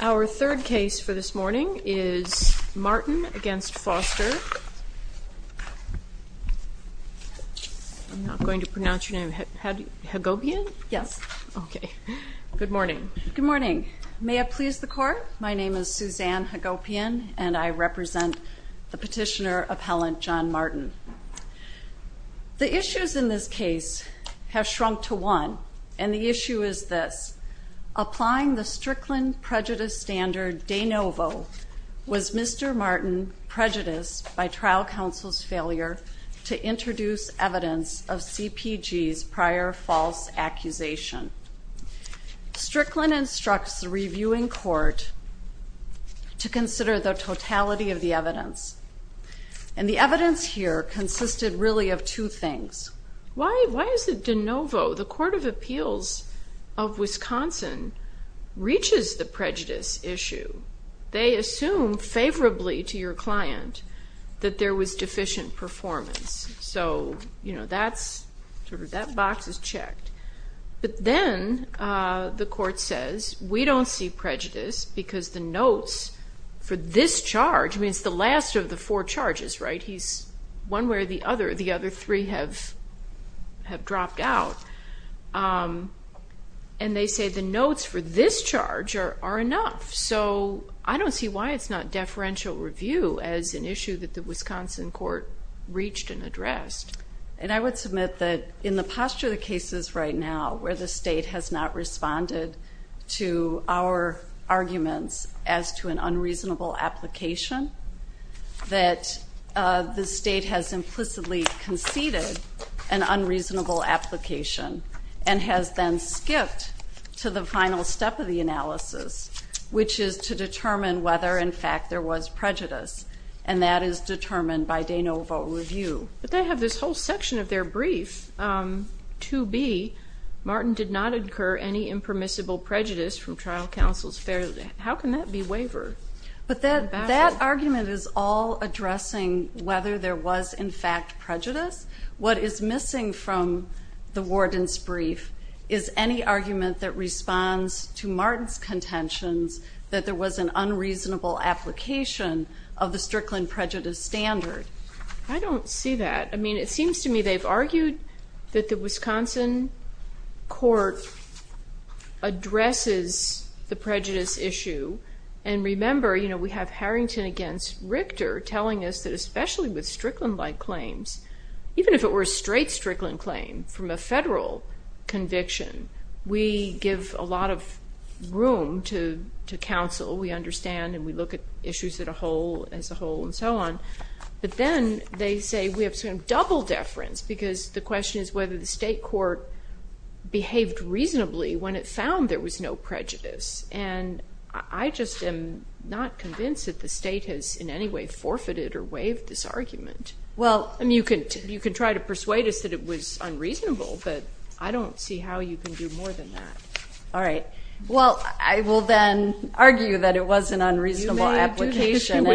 Our third case for this morning is Martin v. Foster. I'm not going to pronounce your name. Hagopian? Yes. Okay. Good morning. Good morning. May it please the court? My name is Suzanne Hagopian, and I represent the petitioner appellant John Martin. The issues in this case have shrunk to one, and the issue is this. Applying the Strickland prejudice standard de novo was Mr. Martin prejudiced by trial counsel's failure to introduce evidence of CPG's prior false accusation. Strickland instructs the reviewing court to consider the totality of the evidence, and the evidence here consisted really of two things. Why is it de novo? The Court of Appeals of Wisconsin reaches the prejudice issue. They assume favorably to your client that there was deficient performance, so that box is checked. But then the court says, we don't see prejudice because the notes for this charge means the last of the four charges, right? He's one where the other three have dropped out. And they say the notes for this charge are enough. So I don't see why it's not deferential review as an issue that the Wisconsin court reached and addressed. And I would submit that in the posture of the cases right now, where the state has not responded to our arguments as to an unreasonable application, that the state has implicitly conceded an unreasonable application and has then skipped to the final step of the analysis, which is to determine whether, in fact, there was prejudice. And that is determined by de novo review. But they have this whole section of their brief, 2B, Martin did not incur any impermissible prejudice from trial counsels. How can that be wavered? But that argument is all addressing whether there was, in fact, prejudice. What is missing from the warden's brief is any argument that responds to Martin's contentions that there was an unreasonable application of the Strickland prejudice standard. I don't see that. I mean, it seems to me they've argued that the Wisconsin court addresses the prejudice issue. And remember, you know, we have Harrington against Richter telling us that especially with Strickland-like claims, even if it were a straight Strickland claim from a federal conviction, we give a lot of room to counsel. We understand and we look at issues as a whole and so on. But then they say we have some double deference because the question is whether the state court behaved reasonably when it found there was no prejudice. And I just am not convinced that the state has in any way forfeited or waived this argument. I mean, you can try to persuade us that it was unreasonable, but I don't see how you can do more than that. All right. Well, I will then argue that it was an unreasonable application.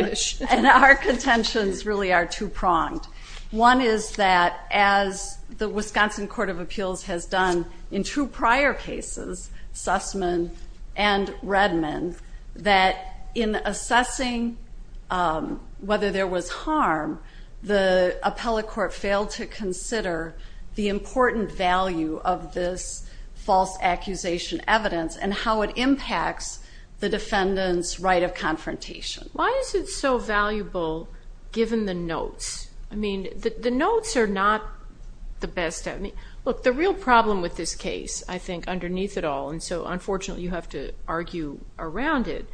And our contentions really are two-pronged. One is that as the Wisconsin Court of Appeals has done in two prior cases, Sussman and Redman, that in assessing whether there was harm, the appellate court failed to consider the important value of this false accusation evidence and how it impacts the defendant's right of confrontation. Why is it so valuable given the notes? I mean, the notes are not the best. Look, the real problem with this case, I think, underneath it all, and so unfortunately you have to argue around it,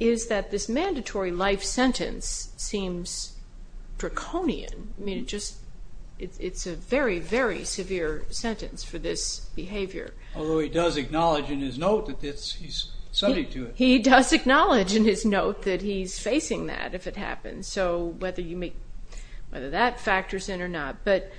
is that this mandatory life sentence seems draconian. I mean, it's a very, very severe sentence for this behavior. Although he does acknowledge in his note that he's subject to it. He does acknowledge in his note that he's facing that if it happens. So whether that factors in or not. But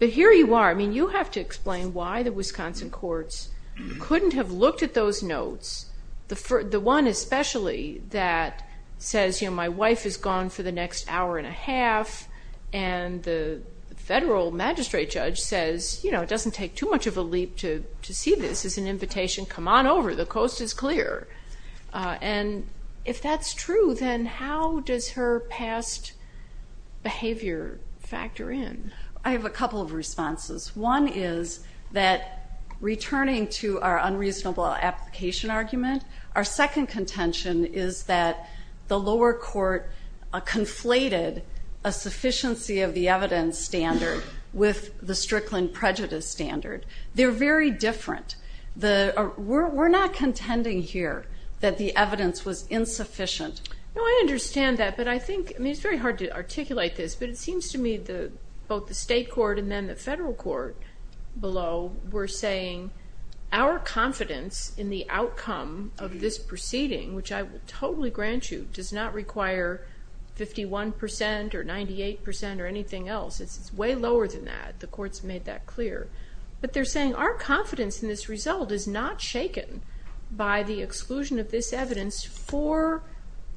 here you are. I mean, you have to explain why the Wisconsin courts couldn't have looked at those notes, the one especially that says, you know, my wife is gone for the next hour and a half, and the federal magistrate judge says, you know, it doesn't take too much of a leap to see this. It's an invitation. Come on over. The coast is clear. And if that's true, then how does her past behavior factor in? I have a couple of responses. One is that returning to our unreasonable application argument, our second contention is that the lower court conflated a sufficiency of the evidence standard with the Strickland prejudice standard. They're very different. We're not contending here that the evidence was insufficient. No, I understand that, but I think, I mean, it's very hard to articulate this, but it seems to me both the state court and then the federal court below were saying, our confidence in the outcome of this proceeding, which I totally grant you, does not require 51% or 98% or anything else. It's way lower than that. The court's made that clear. But they're saying our confidence in this result is not shaken by the exclusion of this evidence for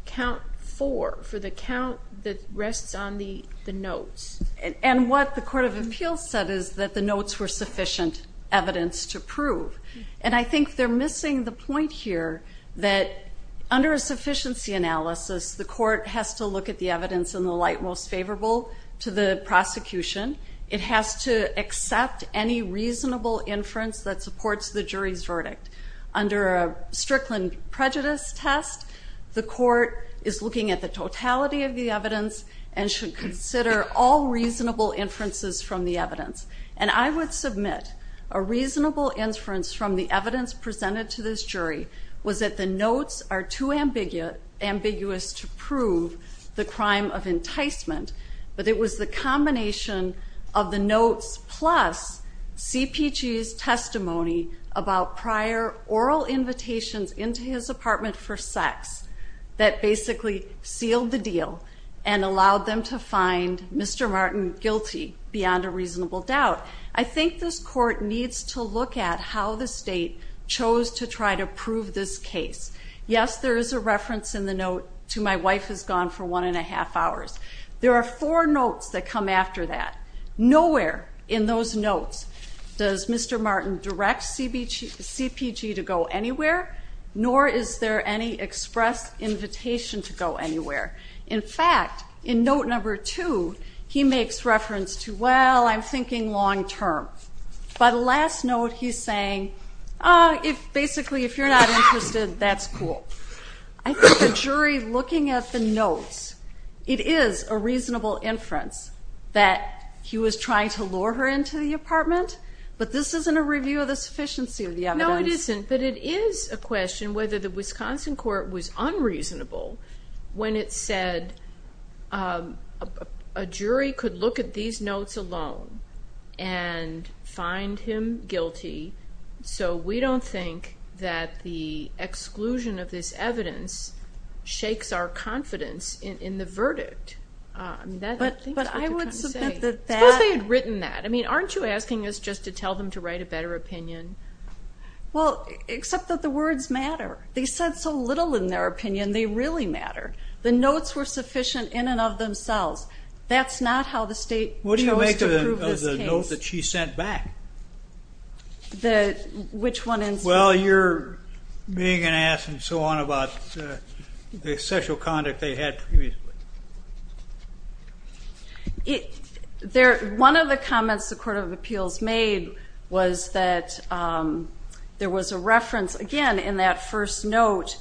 count four, for the count that rests on the notes. And what the Court of Appeals said is that the notes were sufficient evidence to prove. And I think they're missing the point here that under a sufficiency analysis, the court has to look at the evidence in the light most favorable to the prosecution. It has to accept any reasonable inference that supports the jury's verdict. Under a Strickland prejudice test, the court is looking at the totality of the evidence and should consider all reasonable inferences from the evidence. And I would submit a reasonable inference from the evidence presented to this jury was that the notes are too ambiguous to prove the crime of enticement, but it was the combination of the notes plus CPG's testimony about prior oral invitations into his apartment for sex that basically sealed the deal and allowed them to find Mr. Martin guilty beyond a reasonable doubt. I think this court needs to look at how the state chose to try to prove this case. Yes, there is a reference in the note to, My wife has gone for one and a half hours. There are four notes that come after that. Nowhere in those notes does Mr. Martin direct CPG to go anywhere, nor is there any express invitation to go anywhere. In fact, in note number two, he makes reference to, Well, I'm thinking long term. By the last note, he's saying, Basically, if you're not interested, that's cool. I think the jury looking at the notes, it is a reasonable inference that he was trying to lure her into the apartment, but this isn't a review of the sufficiency of the evidence. No, it isn't, but it is a question whether the Wisconsin court was unreasonable when it said a jury could look at these notes alone and find him guilty, so we don't think that the exclusion of this evidence shakes our confidence in the verdict. But I would submit that that, Suppose they had written that. I mean, aren't you asking us just to tell them to write a better opinion? Well, except that the words matter. They said so little in their opinion, they really matter. The notes were sufficient in and of themselves. That's not how the state chose to prove this case. What do you make of the note that she sent back? Which one? Well, you're being an ass and so on about the sexual conduct they had previously. One of the comments the Court of Appeals made was that there was a reference, again, in that first note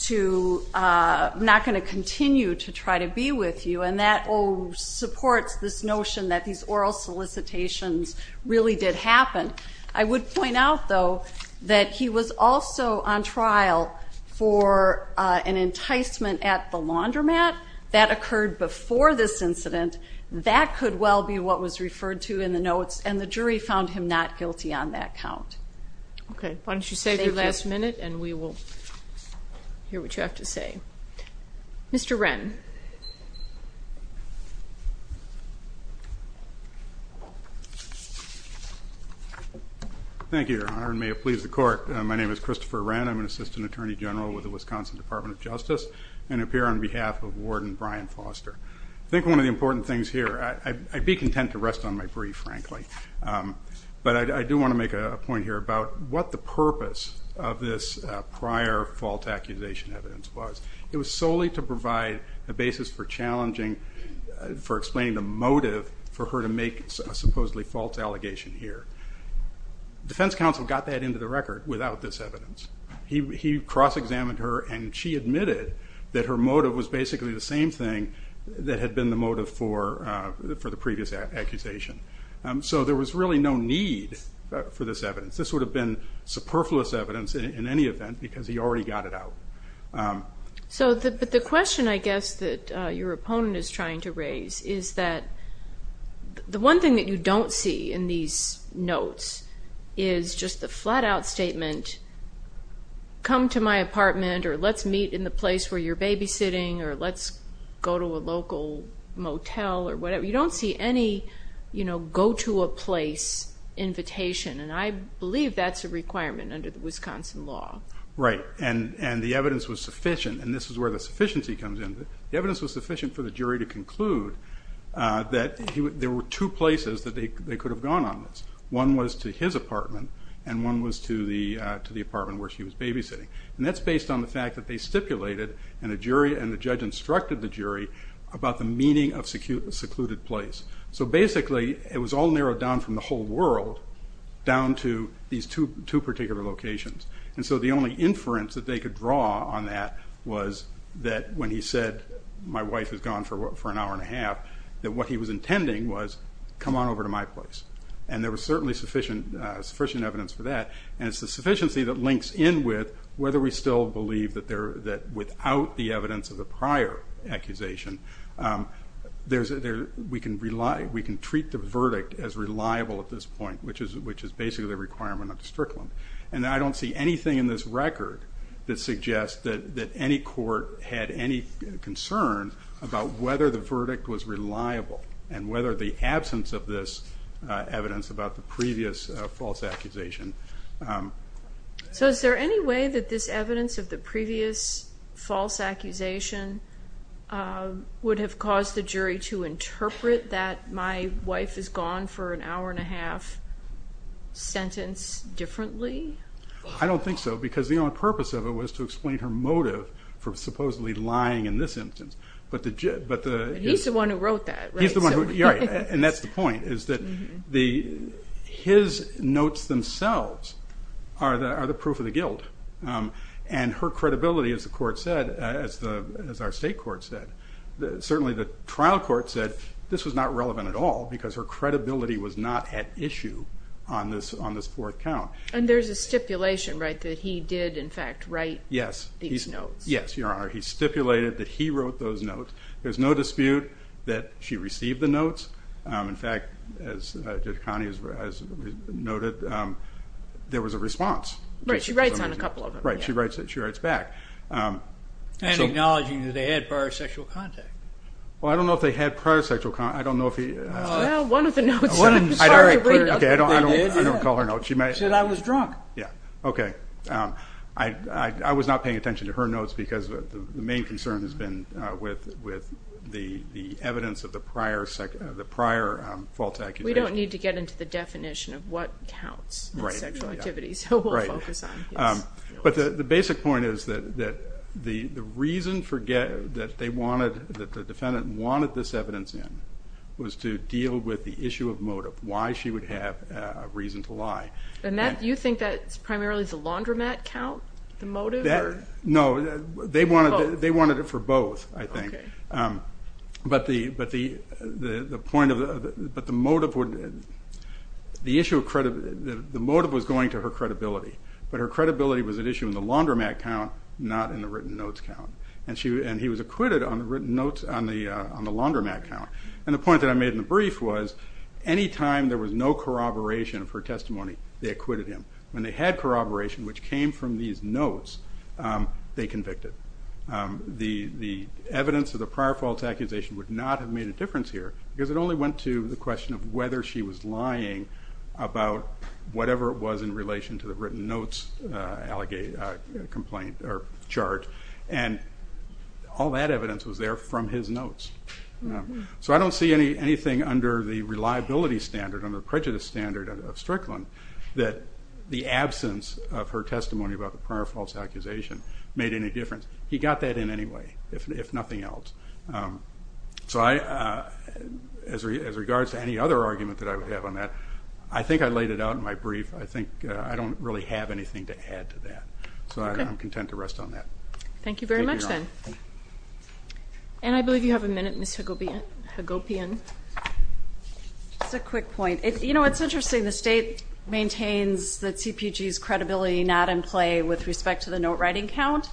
to not going to continue to try to be with you, and that supports this notion that these oral solicitations really did happen. I would point out, though, that he was also on trial for an enticement at the laundromat. That occurred before this incident. That could well be what was referred to in the notes, and the jury found him not guilty on that count. Okay. Why don't you save your last minute, and we will hear what you have to say. Mr. Wren. Thank you, Your Honor, and may it please the Court. My name is Christopher Wren. I'm an assistant attorney general with the Wisconsin Department of Justice and appear on behalf of Warden Brian Foster. I think one of the important things here, I'd be content to rest on my brief, frankly, but I do want to make a point here about what the purpose of this prior fault accusation evidence was. It was solely to provide a basis for challenging, for explaining the motive for her to make a supposedly false allegation here. Defense counsel got that into the record without this evidence. He cross-examined her, and she admitted that her motive was basically the same thing that had been the motive for the previous accusation. So there was really no need for this evidence. This would have been superfluous evidence in any event because he already got it out. So the question, I guess, that your opponent is trying to raise is that the one thing that you don't see in these notes is just the flat-out statement, come to my apartment, or let's meet in the place where you're babysitting, or let's go to a local motel, or whatever. You don't see any go-to-a-place invitation, and I believe that's a requirement under the Wisconsin law. Right, and the evidence was sufficient, and this is where the sufficiency comes in. The evidence was sufficient for the jury to conclude that there were two places that they could have gone on this. One was to his apartment, and one was to the apartment where she was babysitting, and that's based on the fact that they stipulated, and the judge instructed the jury, about the meaning of secluded place. So basically, it was all narrowed down from the whole world down to these two particular locations. And so the only inference that they could draw on that was that when he said, my wife is gone for an hour and a half, that what he was intending was, come on over to my place. And there was certainly sufficient evidence for that, and it's the sufficiency that links in with whether we still believe that without the evidence of the prior accusation, we can treat the verdict as reliable at this point, which is basically a requirement under Strickland. And I don't see anything in this record that suggests that any court had any concern about whether the verdict was reliable, and whether the absence of this evidence about the previous false accusation. So is there any way that this evidence of the previous false accusation would have caused the jury to interpret that my wife is gone for an hour and a half sentence differently? I don't think so, because the only purpose of it was to explain her motive for supposedly lying in this instance. But he's the one who wrote that, right? And that's the point, is that his notes themselves are the proof of the guilt. And her credibility, as the court said, as our state court said, certainly the trial court said, this was not relevant at all, because her credibility was not at issue on this fourth count. And there's a stipulation, right, that he did, in fact, write these notes? Yes, Your Honor, he stipulated that he wrote those notes. There's no dispute that she received the notes. In fact, as Judge Connie has noted, there was a response. Right, she writes on a couple of them. Right, she writes back. And acknowledging that they had prior sexual contact. Well, I don't know if they had prior sexual contact. I don't know if he... Well, one of the notes... Okay, I don't call her notes. She said, I was drunk. Yeah, okay, I was not paying attention to her notes, because the main concern has been with the evidence of the prior false accusation. We don't need to get into the definition of what counts as sexual activity, so we'll focus on his. But the basic point is that the reason that the defendant wanted this evidence in was to deal with the issue of motive, why she would have a reason to lie. And you think that's primarily the laundromat count, the motive? No, they wanted it for both, I think. But the motive was going to her credibility, but her credibility was at issue in the laundromat count, not in the written notes count. And he was acquitted on the written notes on the laundromat count. And the point that I made in the brief was, any time there was no corroboration of her testimony, they acquitted him. When they had corroboration, which came from these notes, they convicted. The evidence of the prior false accusation would not have made a difference here, because it only went to the question of whether she was lying about whatever it was in relation to the written notes charge. And all that evidence was there from his notes. So I don't see anything under the reliability standard, under the prejudice standard of Strickland, that the absence of her testimony about the prior false accusation made any difference. He got that in anyway, if nothing else. So as regards to any other argument that I would have on that, I think I laid it out in my brief. I think I don't really have anything to add to that. Thank you very much, then. And I believe you have a minute, Ms. Hagopian. Just a quick point. You know, it's interesting, the state maintains that CPG's credibility not in play with respect to the note-writing count.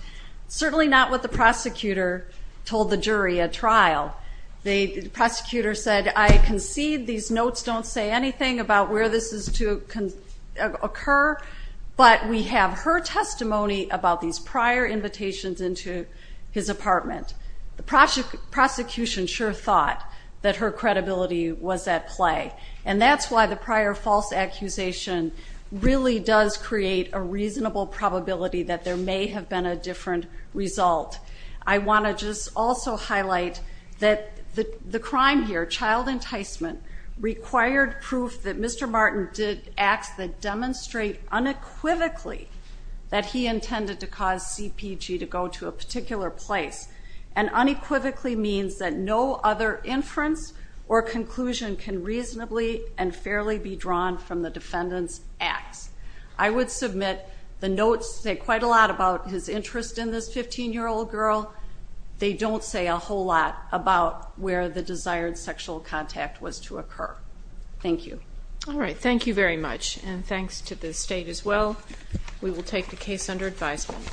Certainly not what the prosecutor told the jury at trial. The prosecutor said, I concede these notes don't say anything about where this is to occur, but we have her testimony about these prior invitations into his apartment. The prosecution sure thought that her credibility was at play. And that's why the prior false accusation really does create a reasonable probability that there may have been a different result. I want to just also highlight that the crime here, child enticement, required proof that Mr. Martin did acts that demonstrate unequivocally that he intended to cause CPG to go to a particular place. And unequivocally means that no other inference or conclusion can reasonably and fairly be drawn from the defendant's acts. I would submit the notes say quite a lot about his interest in this 15-year-old girl. They don't say a whole lot about where the desired sexual contact was to occur. Thank you. All right, thank you very much. And thanks to the state as well. We will take the case under advisement.